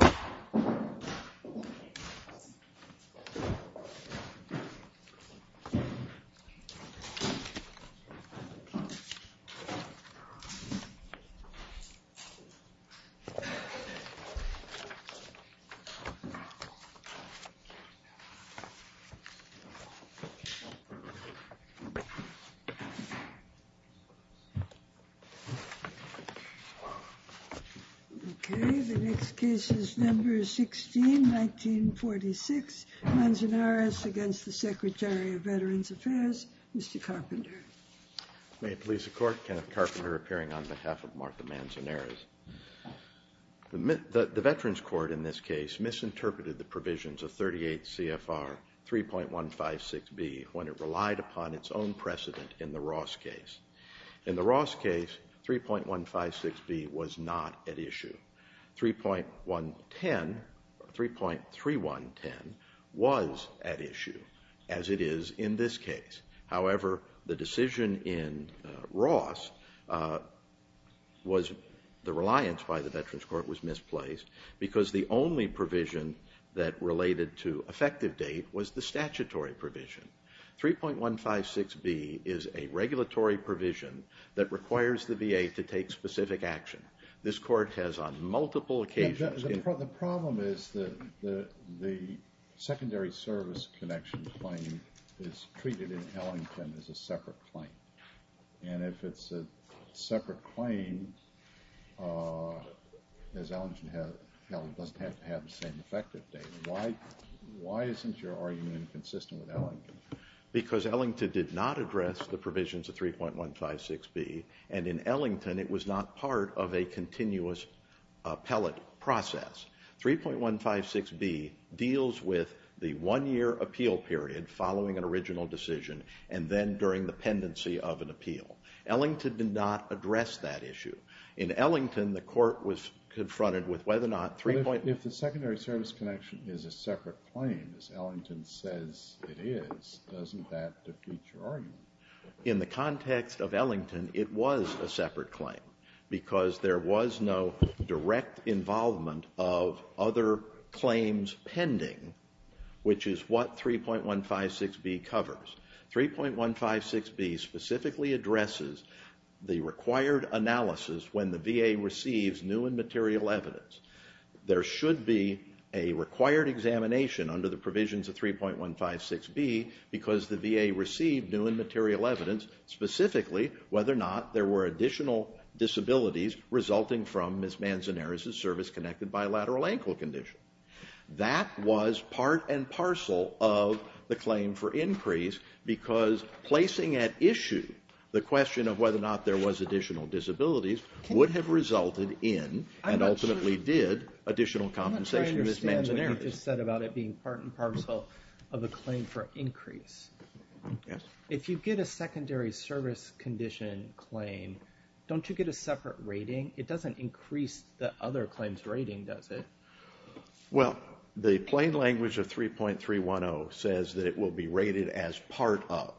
Shulkin v. Shulkin Next case is number 16, 1946, Manzanares against the Secretary of Veterans Affairs, Mr. Carpenter. May it please the Court, Kenneth Carpenter appearing on behalf of Martha Manzanares. The Veterans Court in this case misinterpreted the provisions of 38 CFR 3.156B when it relied upon its own precedent in the Ross case. In the Ross case, 3.156B was not at issue. 3.3110 was at issue, as it is in this case. However, the decision in Ross was the reliance by the Veterans Court was misplaced because the only provision that related to effective date was the statutory provision. 3.156B is a regulatory provision that requires the VA to take specific action. This Court has on multiple occasions... The problem is that the secondary service connection claim is treated in Ellington as a separate claim. And if it's a separate claim, Ellington doesn't have to have the same effective date. Why isn't your argument consistent with Ellington? Because Ellington did not address the provisions of 3.156B, and in Ellington it was not part of a continuous appellate process. 3.156B deals with the one-year appeal period following an original decision and then during the pendency of an appeal. Ellington did not address that issue. In Ellington, the Court was confronted with whether or not 3.156B... But if the secondary service connection is a separate claim, as Ellington says it is, doesn't that defeat your argument? In the context of Ellington, it was a separate claim because there was no direct involvement of other claims pending, which is what 3.156B covers. 3.156B specifically addresses the required analysis when the VA receives new and material evidence. There should be a required examination under the provisions of 3.156B because the VA received new and material evidence, specifically whether or not there were additional disabilities resulting from Ms. Manzanares' service connected by a lateral ankle condition. That was part and parcel of the claim for increase because placing at issue the question of whether or not there was additional disabilities would have resulted in and ultimately did additional compensation to Ms. Manzanares. I'm not sure I understand what you just said about it being part and parcel of a claim for increase. Yes. If you get a secondary service condition claim, don't you get a separate rating? It doesn't increase the other claims rating, does it? Well, the plain language of 3.310 says that it will be rated as part of.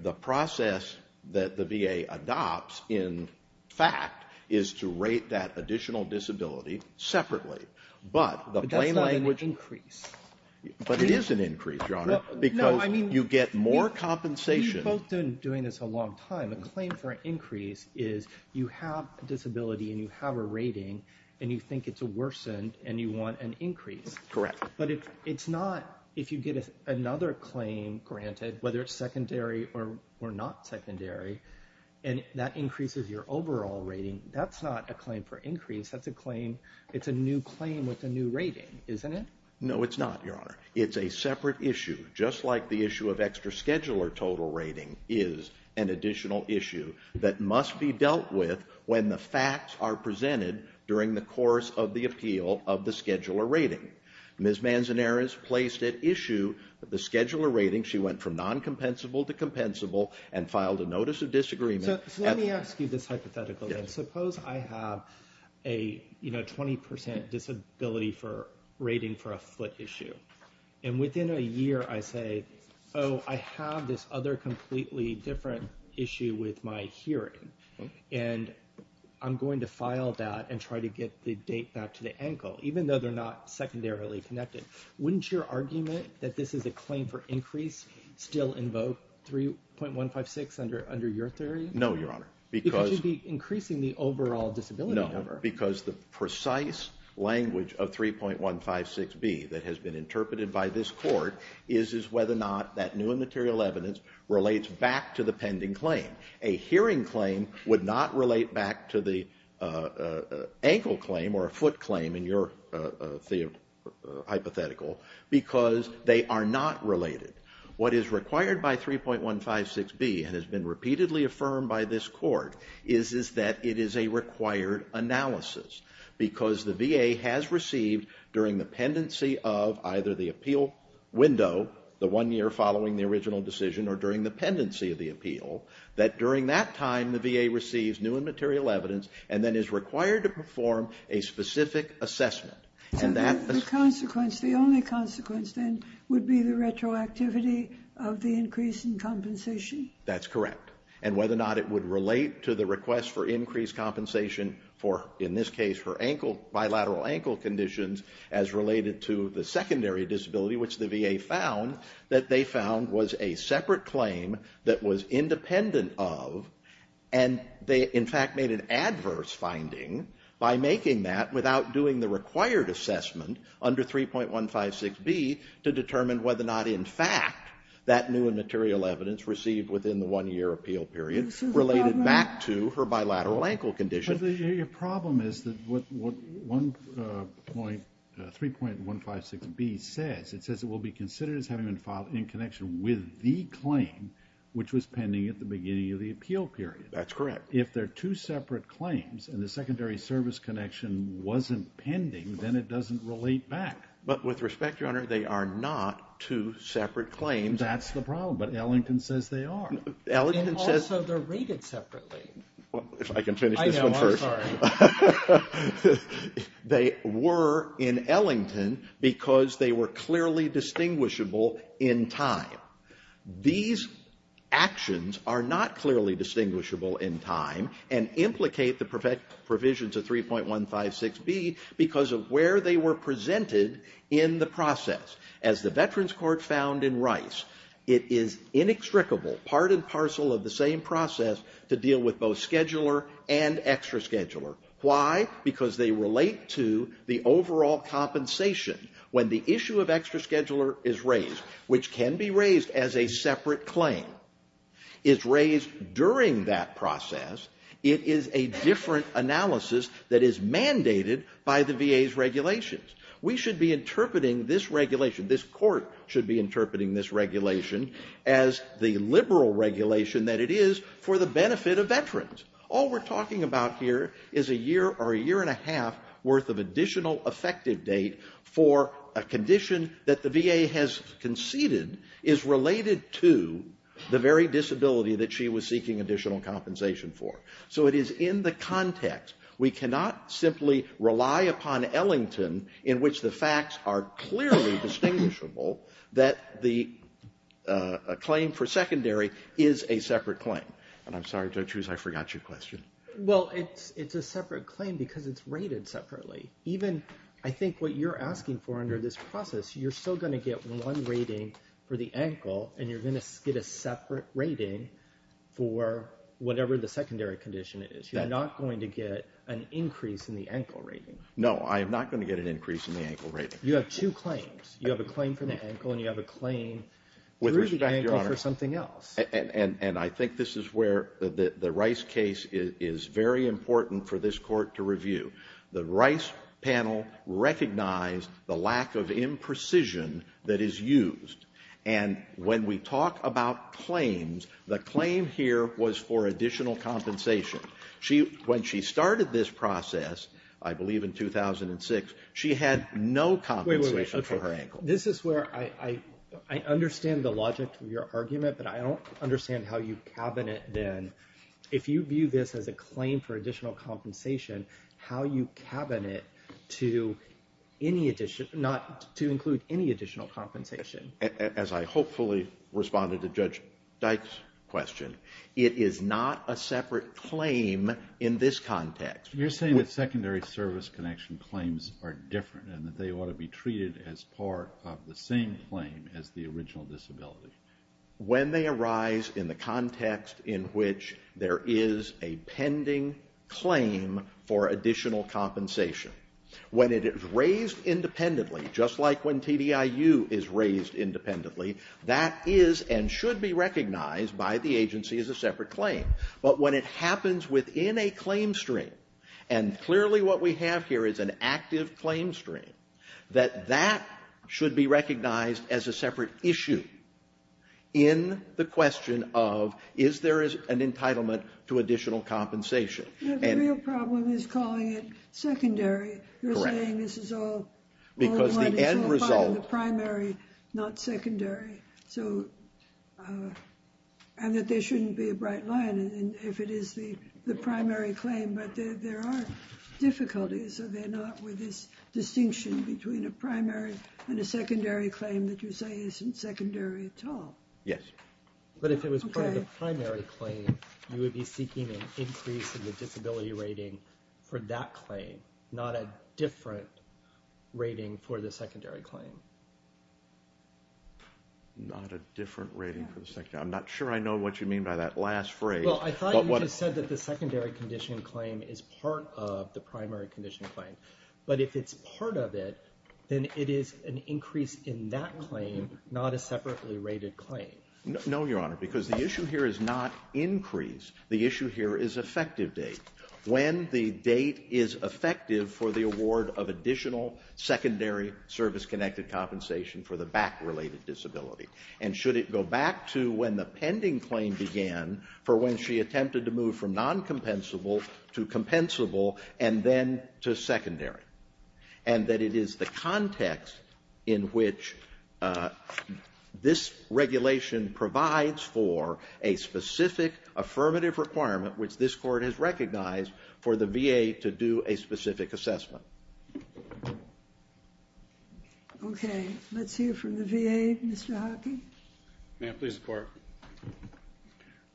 The process that the VA adopts, in fact, is to rate that additional disability separately. But that's not an increase. But it is an increase, Your Honor, because you get more compensation. We've both been doing this a long time. The claim for increase is you have a disability and you have a rating and you think it's worsened and you want an increase. Correct. But it's not if you get another claim granted, whether it's secondary or not secondary, and that increases your overall rating. That's not a claim for increase. That's a claim. It's a new claim with a new rating, isn't it? No, it's not, Your Honor. It's a separate issue, just like the issue of extra scheduler total rating is an additional issue that must be dealt with when the facts are presented during the course of the appeal of the scheduler rating. Ms. Manzanares placed at issue the scheduler rating. She went from non-compensable to compensable and filed a notice of disagreement. So let me ask you this hypothetical. Suppose I have a 20% disability rating for a foot issue. And within a year, I say, oh, I have this other completely different issue with my hearing. And I'm going to file that and try to get the date back to the ankle, even though they're not secondarily connected. Wouldn't your argument that this is a claim for increase still invoke 3.156 under your theory? No, Your Honor. Because you'd be increasing the overall disability number. No, because the precise language of 3.156B that has been interpreted by this court is whether or not that new and material evidence relates back to the pending claim. A hearing claim would not relate back to the ankle claim or a foot claim in your hypothetical because they are not related. What is required by 3.156B and has been repeatedly affirmed by this court is that it is a required analysis. Because the VA has received during the pendency of either the appeal window, the one year following the original decision, or during the pendency of the appeal, that during that time, the VA receives new and material evidence and then is required to perform a specific assessment. The consequence, the only consequence, then, would be the retroactivity of the increase in compensation. That's correct. And whether or not it would relate to the request for increased compensation for, in this case, for bilateral ankle conditions as related to the secondary disability, which the VA found that they found was a separate claim that was independent of. And they, in fact, made an adverse finding by making that without doing the required assessment under 3.156B to determine whether or not, in fact, that new and material evidence received within the one year appeal period related back to her bilateral ankle condition. Your problem is that what 3.156B says, it says it will be considered as having been filed in connection with the claim which was pending at the beginning of the appeal period. That's correct. If they're two separate claims and the secondary service connection wasn't pending, then it doesn't relate back. But with respect, Your Honor, they are not two separate claims. That's the problem. But Ellington says they are. Ellington says. And also they're rated separately. If I can finish this one first. I know. I'm sorry. They were in Ellington because they were clearly distinguishable in time. These actions are not clearly distinguishable in time and implicate the provisions of 3.156B because of where they were presented in the process. As the Veterans Court found in Rice, it is inextricable, part and parcel of the same process, to deal with both scheduler and extra scheduler. Why? Because they relate to the overall compensation. When the issue of extra scheduler is raised, which can be raised as a separate claim, is raised during that process, it is a different analysis that is mandated by the VA's regulations. We should be interpreting this regulation, this court should be interpreting this regulation, as the liberal regulation that it is for the benefit of veterans. All we're talking about here is a year or a year and a half worth of additional effective date for a condition that the VA has conceded is related to the very disability that she was seeking additional compensation for. So it is in the context. We cannot simply rely upon Ellington in which the facts are clearly distinguishable that the claim for secondary is a separate claim. And I'm sorry, Judge Hughes, I forgot your question. Well, it's a separate claim because it's rated separately. Even, I think, what you're asking for under this process, you're still going to get one rating for the ankle and you're going to get a separate rating for whatever the secondary condition is. You're not going to get an increase in the ankle rating. No, I am not going to get an increase in the ankle rating. You have two claims. You have a claim for the ankle and you have a claim through the ankle for something else. And I think this is where the Rice case is very important for this Court to review. The Rice panel recognized the lack of imprecision that is used. And when we talk about claims, the claim here was for additional compensation. When she started this process, I believe in 2006, she had no compensation for her ankle. This is where I understand the logic of your argument, but I don't understand how you cabinet, then, if you view this as a claim for additional compensation, how you cabinet to include any additional compensation. As I hopefully responded to Judge Dyke's question, it is not a separate claim in this context. You're saying that secondary service connection claims are different and that they ought to be treated as part of the same claim as the original disability. When they arise in the context in which there is a pending claim for additional compensation, when it is raised independently, just like when TDIU is raised independently, that is and should be recognized by the agency as a separate claim. But when it happens within a claim stream, and clearly what we have here is an active claim stream, that that should be recognized as a separate issue in the question of is there an entitlement to additional compensation. The real problem is calling it secondary. You're saying this is all part of the primary, not secondary, and that there shouldn't be a bright line if it is the primary claim. But there are difficulties, are there not, with this distinction between a primary and a secondary claim that you say isn't secondary at all? Yes. But if it was part of the primary claim, you would be seeking an increase in the disability rating for that claim, not a different rating for the secondary claim. Not a different rating for the secondary. I'm not sure I know what you mean by that last phrase. Well, I thought you just said that the secondary condition claim is part of the primary condition claim. But if it's part of it, then it is an increase in that claim, not a separately rated claim. No, Your Honor, because the issue here is not increase. The issue here is effective date. When the date is effective for the award of additional secondary service-connected compensation for the back-related disability. And should it go back to when the pending claim began for when she attempted to move from non-compensable to compensable and then to secondary, and that it is the context in which this regulation provides for a specific affirmative requirement, which this Court has recognized, for the VA to do a specific assessment. Okay. Let's hear from the VA, Mr. Hockey. May I please, Court?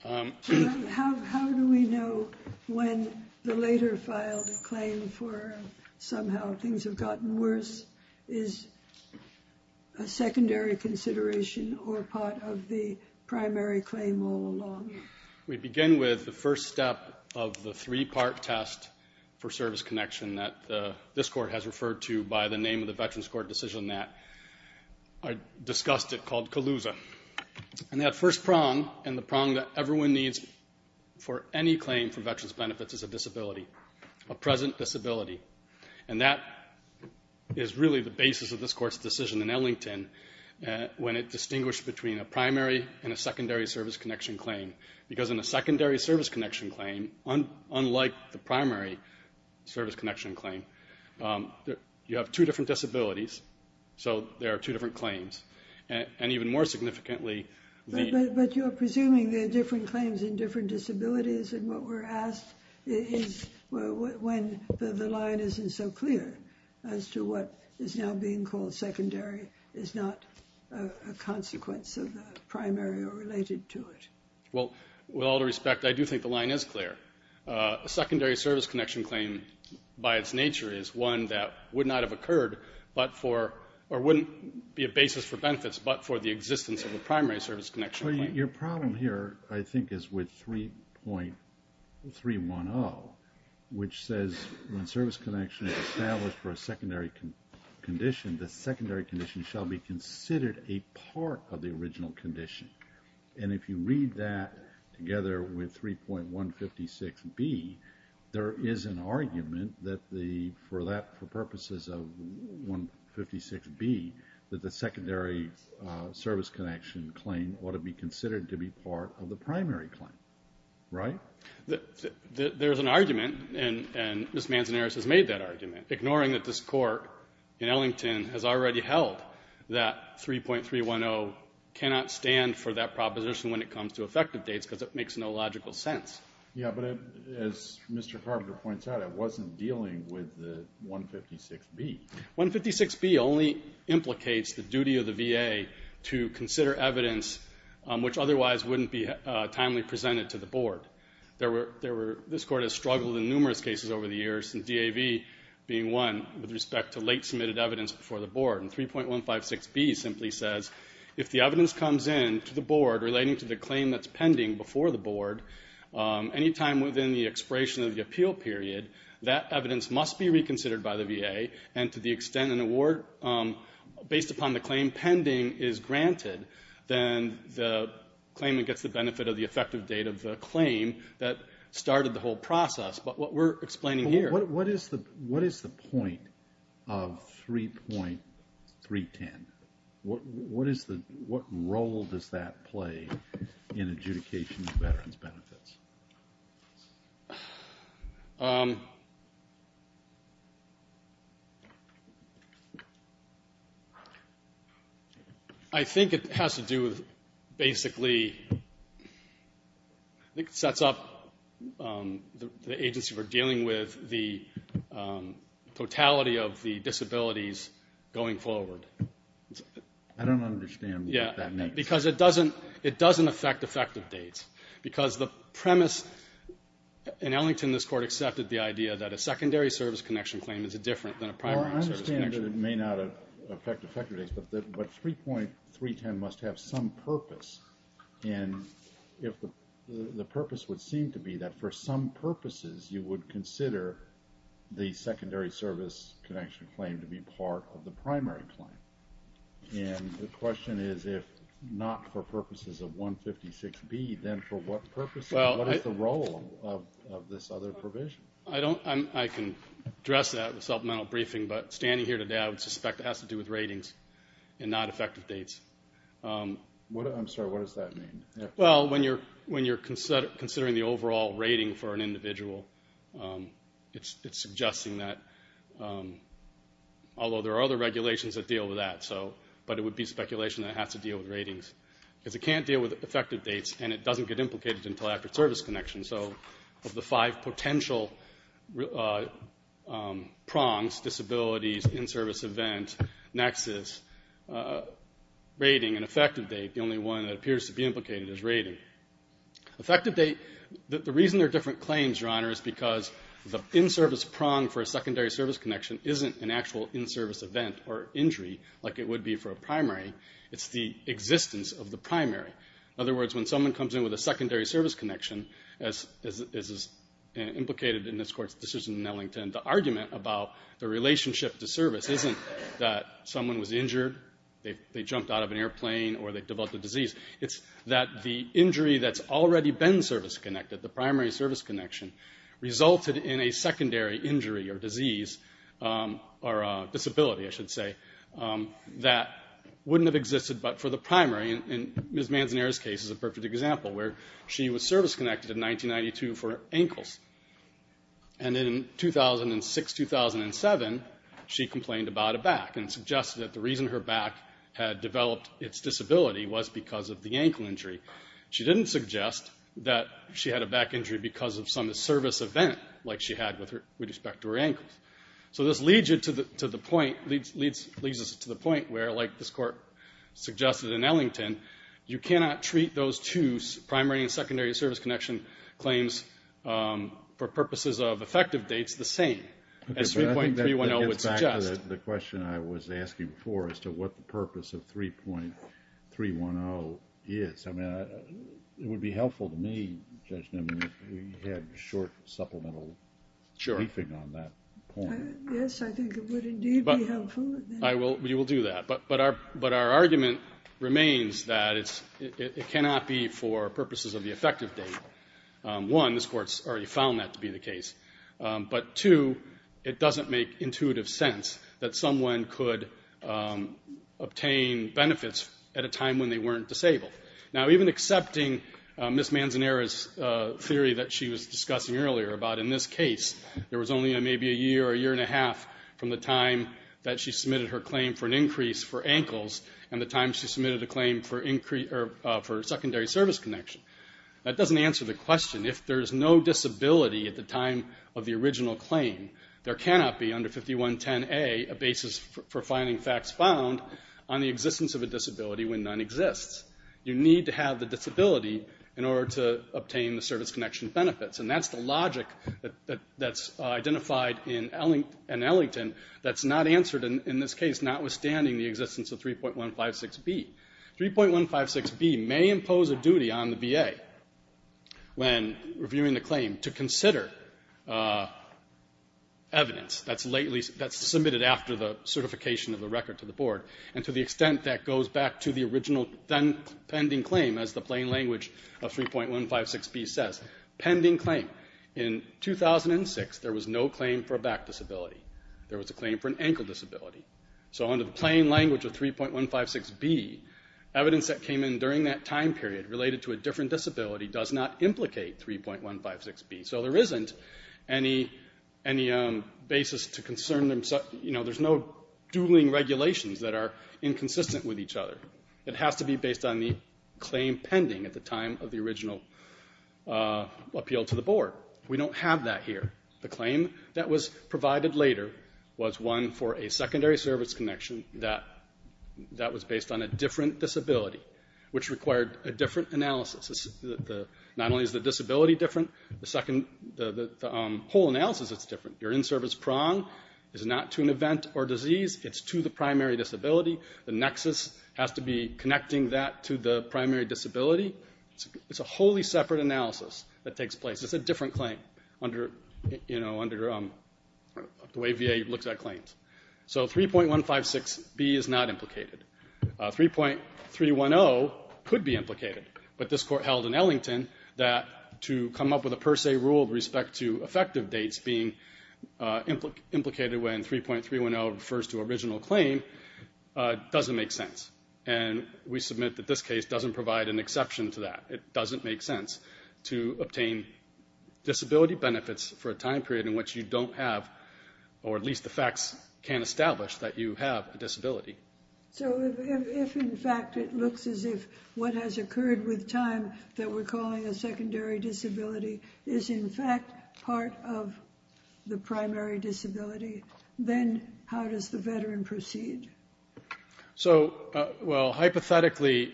How do we know when the later filed claim for somehow things have gotten worse is a secondary consideration or part of the primary claim all along? We begin with the first step of the three-part test for service connection that this Court has referred to by the name of the Veterans Court decision that I discussed it called CALUSA. And that first prong and the prong that everyone needs for any claim for veterans' benefits is a disability. A present disability. And that is really the basis of this Court's decision in Ellington when it distinguished between a primary and a secondary service connection claim. Because in a secondary service connection claim, unlike the primary service connection claim, you have two different disabilities, so there are two different claims. And even more significantly... But you're presuming there are different claims in different disabilities, and what we're asked is when the line isn't so clear as to what is now being called secondary is not a consequence of the primary or related to it. Well, with all due respect, I do think the line is clear. A secondary service connection claim by its nature is one that would not have occurred or wouldn't be a basis for benefits but for the existence of a primary service connection claim. Your problem here, I think, is with 3.310, which says when service connection is established for a secondary condition, the secondary condition shall be considered a part of the original condition. And if you read that together with 3.156B, there is an argument that for purposes of 156B, that the secondary service connection claim ought to be considered to be part of the primary claim. Right? There's an argument, and Ms. Manzanares has made that argument, ignoring that this Court in Ellington has already held that 3.310 cannot stand for that proposition when it comes to effective dates because it makes no logical sense. Yeah, but as Mr. Carpenter points out, it wasn't dealing with the 156B. 156B only implicates the duty of the VA to consider evidence which otherwise wouldn't be timely presented to the Board. This Court has struggled in numerous cases over the years, the DAV being one with respect to late submitted evidence before the Board. And 3.156B simply says if the evidence comes in to the Board relating to the claim that's pending before the Board, any time within the expiration of the appeal period, that evidence must be reconsidered by the VA, and to the extent an award based upon the claim pending is granted, then the claimant gets the benefit of the effective date of the claim that started the whole process. But what we're explaining here... What is the point of 3.310? What role does that play in adjudication of veterans' benefits? I think it has to do with basically... totality of the disabilities going forward. I don't understand what that means. Because it doesn't affect effective dates. Because the premise... In Ellington, this Court accepted the idea that a secondary service connection claim is different than a primary service connection. Well, I understand that it may not affect effective dates, but 3.310 must have some purpose. And the purpose would seem to be that for some purposes you would consider the secondary service connection claim to be part of the primary claim. And the question is, if not for purposes of 156B, then for what purpose? What is the role of this other provision? I can address that in a supplemental briefing, but standing here today, I would suspect it has to do with ratings and not effective dates. I'm sorry, what does that mean? Well, when you're considering the overall rating for an individual, it's suggesting that... although there are other regulations that deal with that, but it would be speculation that it has to deal with ratings. Because it can't deal with effective dates, and it doesn't get implicated until after service connection. So of the five potential prongs, disabilities, in-service event, nexus, rating and effective date, the only one that appears to be implicated is rating. The reason there are different claims, Your Honor, is because the in-service prong for a secondary service connection isn't an actual in-service event or injury, like it would be for a primary. It's the existence of the primary. In other words, when someone comes in with a secondary service connection, as is implicated in this Court's decision in Ellington, the argument about the relationship to service isn't that someone was injured, they jumped out of an airplane, or they developed a disease. It's that the injury that's already been service-connected, the primary service connection, resulted in a secondary injury or disease, or disability, I should say, that wouldn't have existed but for the primary. And Ms. Manzanera's case is a perfect example, where she was service-connected in 1992 for ankles. And in 2006-2007, she complained about it back, and suggested that the reason her back had developed its disability was because of the ankle injury. She didn't suggest that she had a back injury because of some service event like she had with respect to her ankles. So this leads us to the point where, like this Court suggested in Ellington, you cannot treat those two primary and secondary service connection claims for purposes of effective dates the same, as 3.310 would suggest. The question I was asking before, as to what the purpose of 3.310 is, it would be helpful to me, Judge Nimmin, if we had a short supplemental briefing on that point. Yes, I think it would indeed be helpful. We will do that. But our argument remains that it cannot be for purposes of the effective date. One, this Court's already found that to be the case. But two, it doesn't make intuitive sense that someone could obtain benefits at a time when they weren't disabled. Now, even accepting Ms. Manzanera's theory that she was discussing earlier about in this case, there was only maybe a year or a year and a half from the time that she submitted her claim for an increase for ankles and the time she submitted a claim for secondary service connection. That doesn't answer the question. If there's no disability at the time of the original claim, there cannot be under 5110A a basis for finding facts found on the existence of a disability when none exists. You need to have the disability in order to obtain the service connection benefits. And that's the logic that's identified in Ellington that's not answered in this case, notwithstanding the existence of 3.156B. 3.156B may impose a duty on the VA when reviewing the claim to consider evidence that's submitted after the certification of the record to the board, and to the extent that goes back to the original pending claim, as the plain language of 3.156B says. Pending claim. In 2006, there was no claim for a back disability. There was a claim for an ankle disability. So under the plain language of 3.156B, evidence that came in during that time period related to a different disability does not implicate 3.156B. So there isn't any basis to concern them. There's no dueling regulations that are inconsistent with each other. It has to be based on the claim pending at the time of the original appeal to the board. We don't have that here. The claim that was provided later was one for a secondary service connection that was based on a different disability, which required a different analysis. Not only is the disability different, the whole analysis is different. Your in-service prong is not to an event or disease. It's to the primary disability. The nexus has to be connecting that to the primary disability. It's a wholly separate analysis that takes place. It's a different claim under the way VA looks at claims. So 3.156B is not implicated. 3.310 could be implicated. But this court held in Ellington that to come up with a per se rule with respect to effective dates being implicated when 3.310 refers to original claim doesn't make sense. And we submit that this case doesn't provide an exception to that. It doesn't make sense to obtain disability benefits for a time period in which you don't have, or at least the facts can't establish that you have a disability. So if, in fact, it looks as if what has occurred with time that we're calling a secondary disability is in fact part of the primary disability, then how does the veteran proceed? So, well, hypothetically,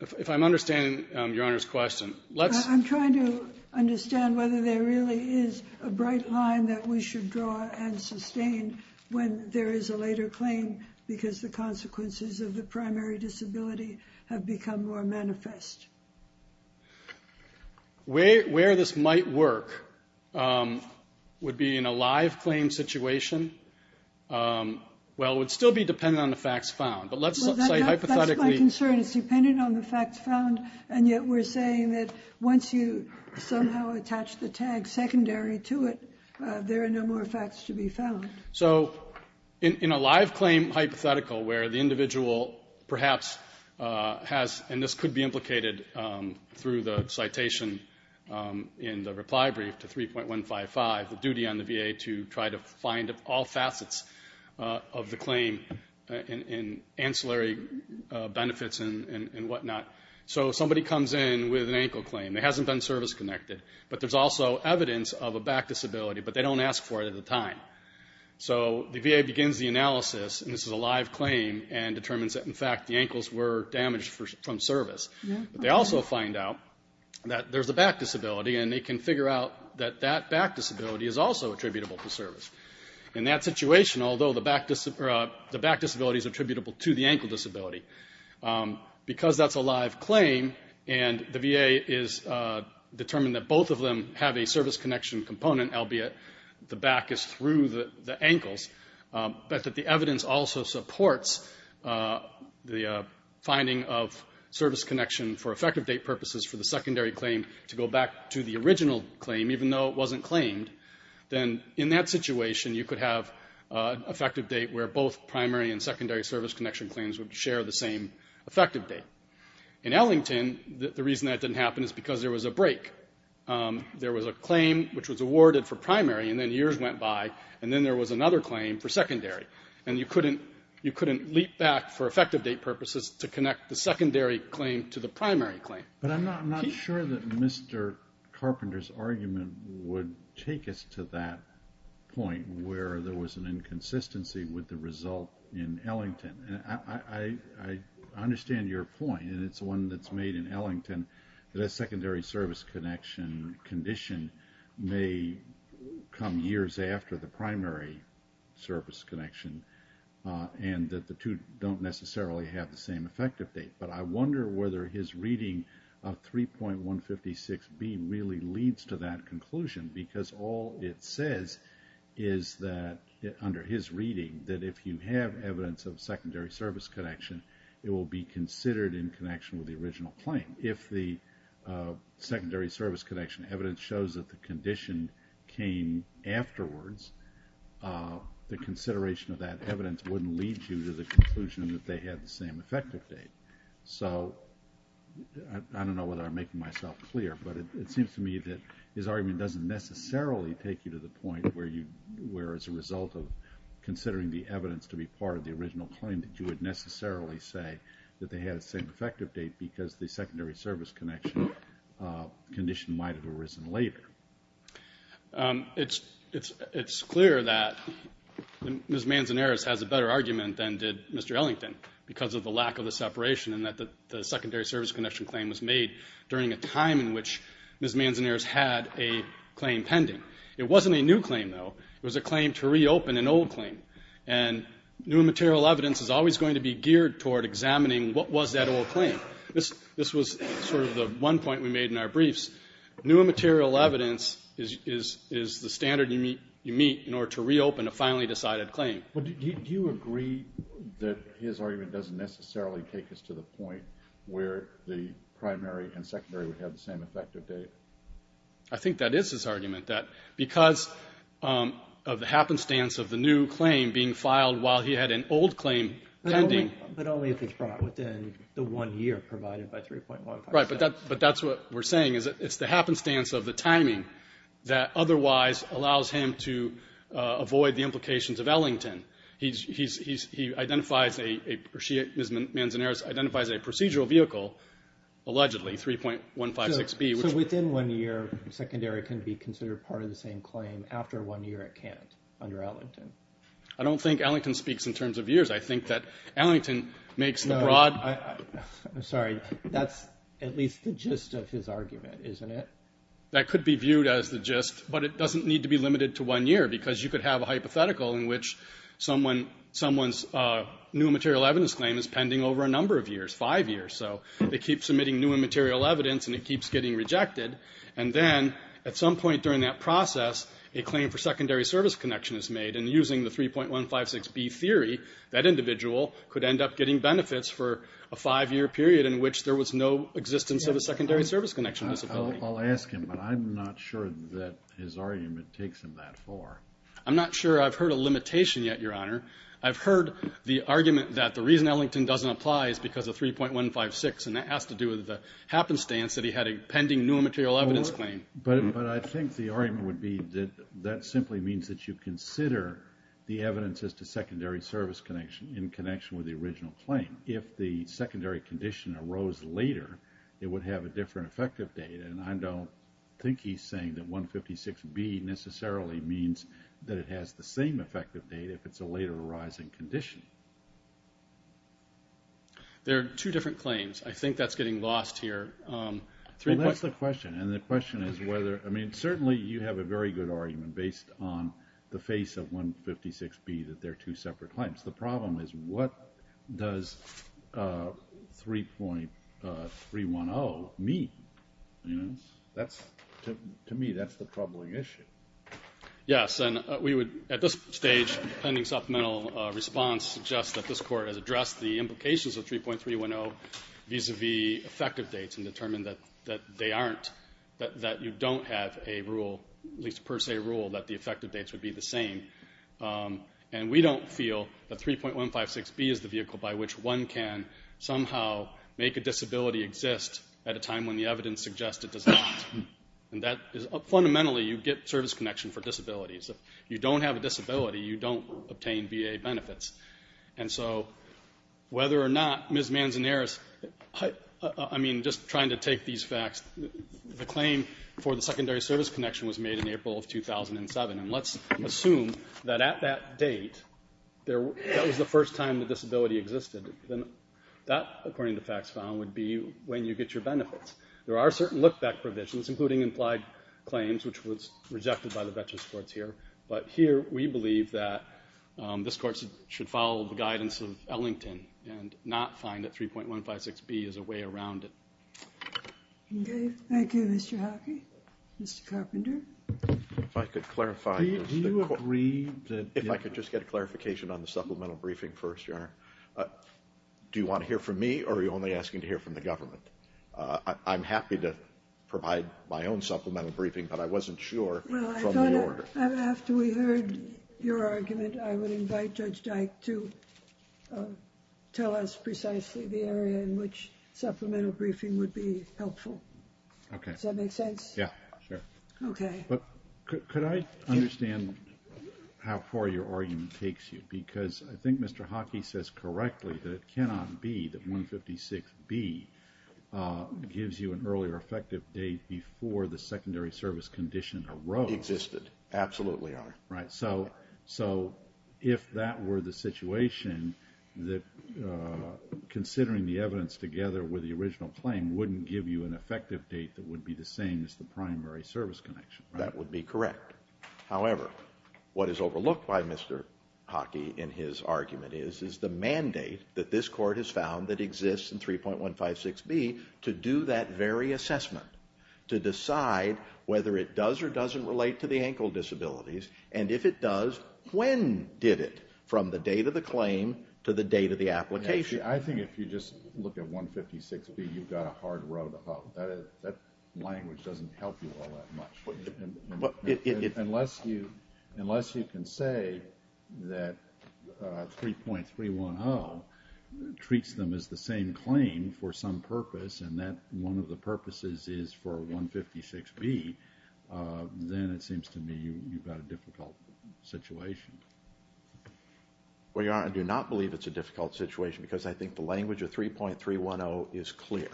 if I'm understanding Your Honor's question, let's... I'm trying to understand whether there really is a bright line that we should draw and sustain when there is a later claim because the consequences of the primary disability have become more manifest. Where this might work would be in a live claim situation. Well, it would still be dependent on the facts found, but let's say hypothetically... That's my concern. It's dependent on the facts found, and yet we're saying that once you somehow attach the tag secondary to it, there are no more facts to be found. So in a live claim hypothetical where the individual perhaps has, and this could be implicated through the citation in the reply brief to 3.155, the duty on the VA to try to find all facets of the claim in ancillary benefits and whatnot. So somebody comes in with an ankle claim. It hasn't been service-connected, but there's also evidence of a back disability, but they don't ask for it at the time. So the VA begins the analysis, and this is a live claim, and determines that, in fact, the ankles were damaged from service. But they also find out that there's a back disability, and they can figure out that that back disability is also attributable to service. In that situation, although the back disability is attributable to the ankle disability, because that's a live claim, and the VA has determined that both of them have a service-connection component, albeit the back is through the ankles, but that the evidence also supports the finding of service connection for effective date purposes for the secondary claim to go back to the original claim, even though it wasn't claimed, then in that situation you could have an effective date where both primary and secondary service-connection claims would share the same effective date. In Ellington, the reason that didn't happen is because there was a break. There was a claim which was awarded for primary, and then years went by, and then there was another claim for secondary. And you couldn't leap back for effective date purposes to connect the secondary claim to the primary claim. But I'm not sure that Mr. Carpenter's argument would take us to that point where there was an inconsistency with the result in Ellington. I understand your point, and it's one that's made in Ellington, that a secondary service-connection condition may come years after the primary service-connection and that the two don't necessarily have the same effective date. But I wonder whether his reading of 3.156B really leads to that conclusion, because all it says is that, under his reading, that if you have evidence of secondary service-connection, it will be considered in connection with the original claim. If the secondary service-connection evidence shows that the condition came afterwards, the consideration of that evidence wouldn't lead you to the conclusion that they had the same effective date. So I don't know whether I'm making myself clear, but it seems to me that his argument doesn't necessarily take you to the point where, as a result of considering the evidence to be part of the original claim, that you would necessarily say that they had the same effective date because the secondary service-connection condition might have arisen later. It's clear that Ms. Manzanares has a better argument than did Mr. Ellington because of the lack of the separation and that the secondary service-connection claim was made during a time in which Ms. Manzanares had a claim pending. It wasn't a new claim, though. It was a claim to reopen an old claim. And new and material evidence is always going to be geared toward examining what was that old claim. This was sort of the one point we made in our briefs. New and material evidence is the standard you meet in order to reopen a finally decided claim. Do you agree that his argument doesn't necessarily take us to the point where the primary and secondary would have the same effective date? I think that is his argument, that because of the happenstance of the new claim being filed while he had an old claim pending. But only if it's brought within the one year provided by 3.156. Right, but that's what we're saying is that it's the happenstance of the timing that otherwise allows him to avoid the implications of Ellington. He identifies, or she, Ms. Manzanares, identifies a procedural vehicle, allegedly, 3.156B. So within one year, secondary can be considered part of the same claim after one year at Kant under Ellington. I don't think Ellington speaks in terms of years. I think that Ellington makes the broad. I'm sorry. That's at least the gist of his argument, isn't it? That could be viewed as the gist, but it doesn't need to be limited to one year because you could have a hypothetical in which someone's new and material evidence claim is pending over a number of years, five years. So they keep submitting new and material evidence, and it keeps getting rejected. And then at some point during that process, a claim for secondary service connection is made. And using the 3.156B theory, that individual could end up getting benefits for a five-year period in which there was no existence of a secondary service connection disability. I'll ask him, but I'm not sure that his argument takes him that far. I'm not sure I've heard a limitation yet, Your Honor. I've heard the argument that the reason Ellington doesn't apply is because of 3.156, and that has to do with the happenstance that he had a pending new and material evidence claim. But I think the argument would be that that simply means that you consider the evidence as to secondary service connection in connection with the original claim. If the secondary condition arose later, it would have a different effective date. And I don't think he's saying that 156B necessarily means that it has the same effective date if it's a later arising condition. There are two different claims. I think that's getting lost here. Well, that's the question. And the question is whether, I mean, certainly you have a very good argument based on the face of 156B, that they're two separate claims. Perhaps the problem is what does 3.310 mean? That's, to me, that's the troubling issue. Yes, and we would at this stage, pending supplemental response, suggest that this Court has addressed the implications of 3.310 vis-à-vis effective dates and determined that they aren't, that you don't have a rule, at least a per se rule, that the effective dates would be the same. And we don't feel that 3.156B is the vehicle by which one can somehow make a disability exist at a time when the evidence suggests it does not. Fundamentally, you get service connection for disabilities. If you don't have a disability, you don't obtain VA benefits. And so whether or not Ms. Manzanares, I mean, just trying to take these facts, the claim for the secondary service connection was made in April of 2007. And let's assume that at that date, that was the first time the disability existed. Then that, according to facts found, would be when you get your benefits. There are certain look-back provisions, including implied claims, which was rejected by the Veterans Courts here. But here we believe that this Court should follow the guidance of Ellington and not find that 3.156B is a way around it. Okay, thank you, Mr. Hockey. Mr. Carpenter? If I could clarify— Do you agree that— If I could just get a clarification on the supplemental briefing first, Your Honor. Do you want to hear from me, or are you only asking to hear from the government? I'm happy to provide my own supplemental briefing, but I wasn't sure from the order. Well, I thought after we heard your argument, I would invite Judge Dyke to tell us precisely the area in which supplemental briefing would be helpful. Okay. Does that make sense? Yeah, sure. Okay. But could I understand how far your argument takes you? Because I think Mr. Hockey says correctly that it cannot be that 3.156B gives you an earlier effective date before the secondary service condition arose. It existed. Absolutely, Your Honor. Right, so if that were the situation, considering the evidence together with the original claim wouldn't give you an effective date that would be the same as the primary service condition, right? That would be correct. However, what is overlooked by Mr. Hockey in his argument is the mandate that this Court has found that exists in 3.156B to do that very assessment, to decide whether it does or doesn't relate to the ankle disabilities, and if it does, when did it? From the date of the claim to the date of the application. I think if you just look at 156B, you've got a hard row to hoe. That language doesn't help you all that much. Unless you can say that 3.310 treats them as the same claim for some purpose and that one of the purposes is for 156B, then it seems to me you've got a difficult situation. Well, Your Honor, I do not believe it's a difficult situation because I think the language of 3.310 is clear.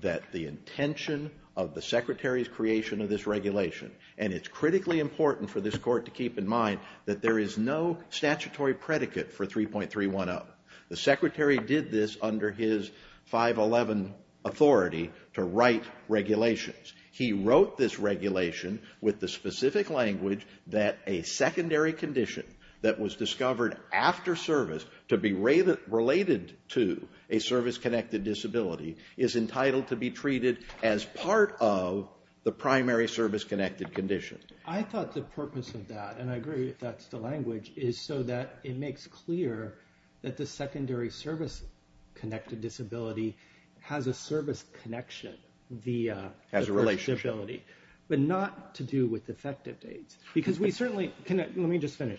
That the intention of the Secretary's creation of this regulation, and it's critically important for this Court to keep in mind that there is no statutory predicate for 3.310. The Secretary did this under his 511 authority to write regulations. He wrote this regulation with the specific language that a secondary condition that was discovered after service to be related to a service-connected disability is entitled to be treated as part of the primary service-connected condition. I thought the purpose of that, and I agree if that's the language, is so that it makes clear that the secondary service-connected disability has a service connection via the first disability, but not to do with effective dates. Let me just finish.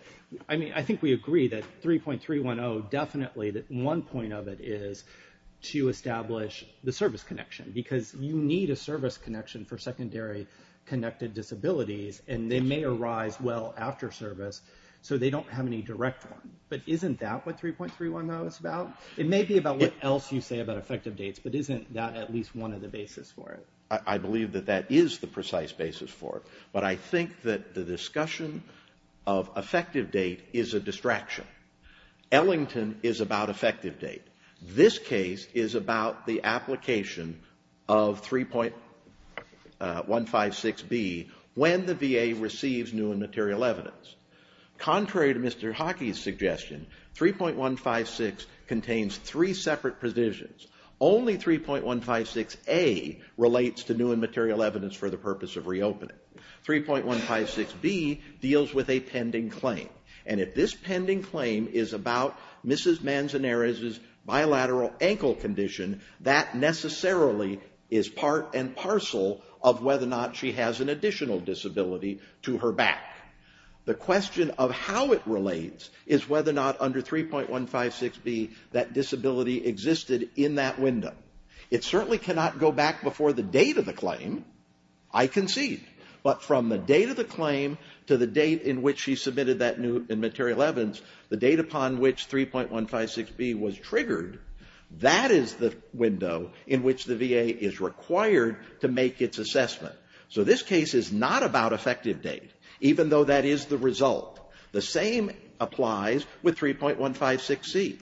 I think we agree that 3.310 definitely, that one point of it is to establish the service connection because you need a service connection for secondary-connected disabilities and they may arise well after service, so they don't have any direct one. But isn't that what 3.310 is about? It may be about what else you say about effective dates, but isn't that at least one of the bases for it? I believe that that is the precise basis for it, but I think that the discussion of effective date is a distraction. Ellington is about effective date. This case is about the application of 3.156B when the VA receives new and material evidence. Contrary to Mr. Hockey's suggestion, 3.156 contains three separate positions. Only 3.156A relates to new and material evidence for the purpose of reopening. 3.156B deals with a pending claim, and if this pending claim is about Mrs. Manzanares' bilateral ankle condition, that necessarily is part and parcel of whether or not she has an additional disability to her back. The question of how it relates is whether or not under 3.156B that disability existed in that window. It certainly cannot go back before the date of the claim. I concede. But from the date of the claim to the date in which she submitted that new and material evidence, the date upon which 3.156B was triggered, that is the window in which the VA is required to make its assessment. So this case is not about effective date, even though that is the result. The same applies with 3.156C.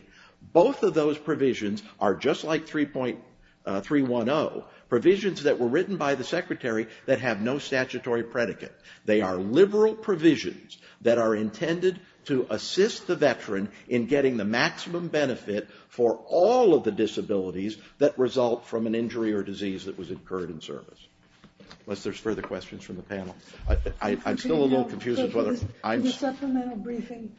Both of those provisions are just like 3.310, provisions that were written by the Secretary that have no statutory predicate. They are liberal provisions that are intended to assist the veteran in getting the maximum benefit for all of the disabilities that result from an injury or disease that was incurred in service. Unless there's further questions from the panel. I'm still a little confused as to whether I'm... In the supplemental briefing,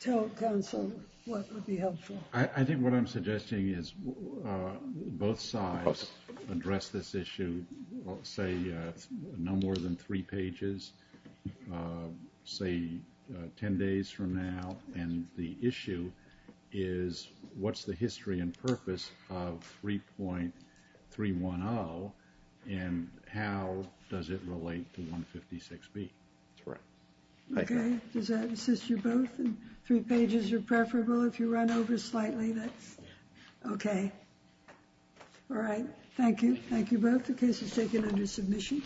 tell counsel what would be helpful. I think what I'm suggesting is both sides address this issue, say no more than three pages, say 10 days from now, and the issue is what's the history and purpose of 3.310 and how does it relate to 3.156B. That's right. Okay, does that assist you both? Three pages are preferable if you run over slightly, that's okay. All right, thank you. Thank you both. The case is taken under submission.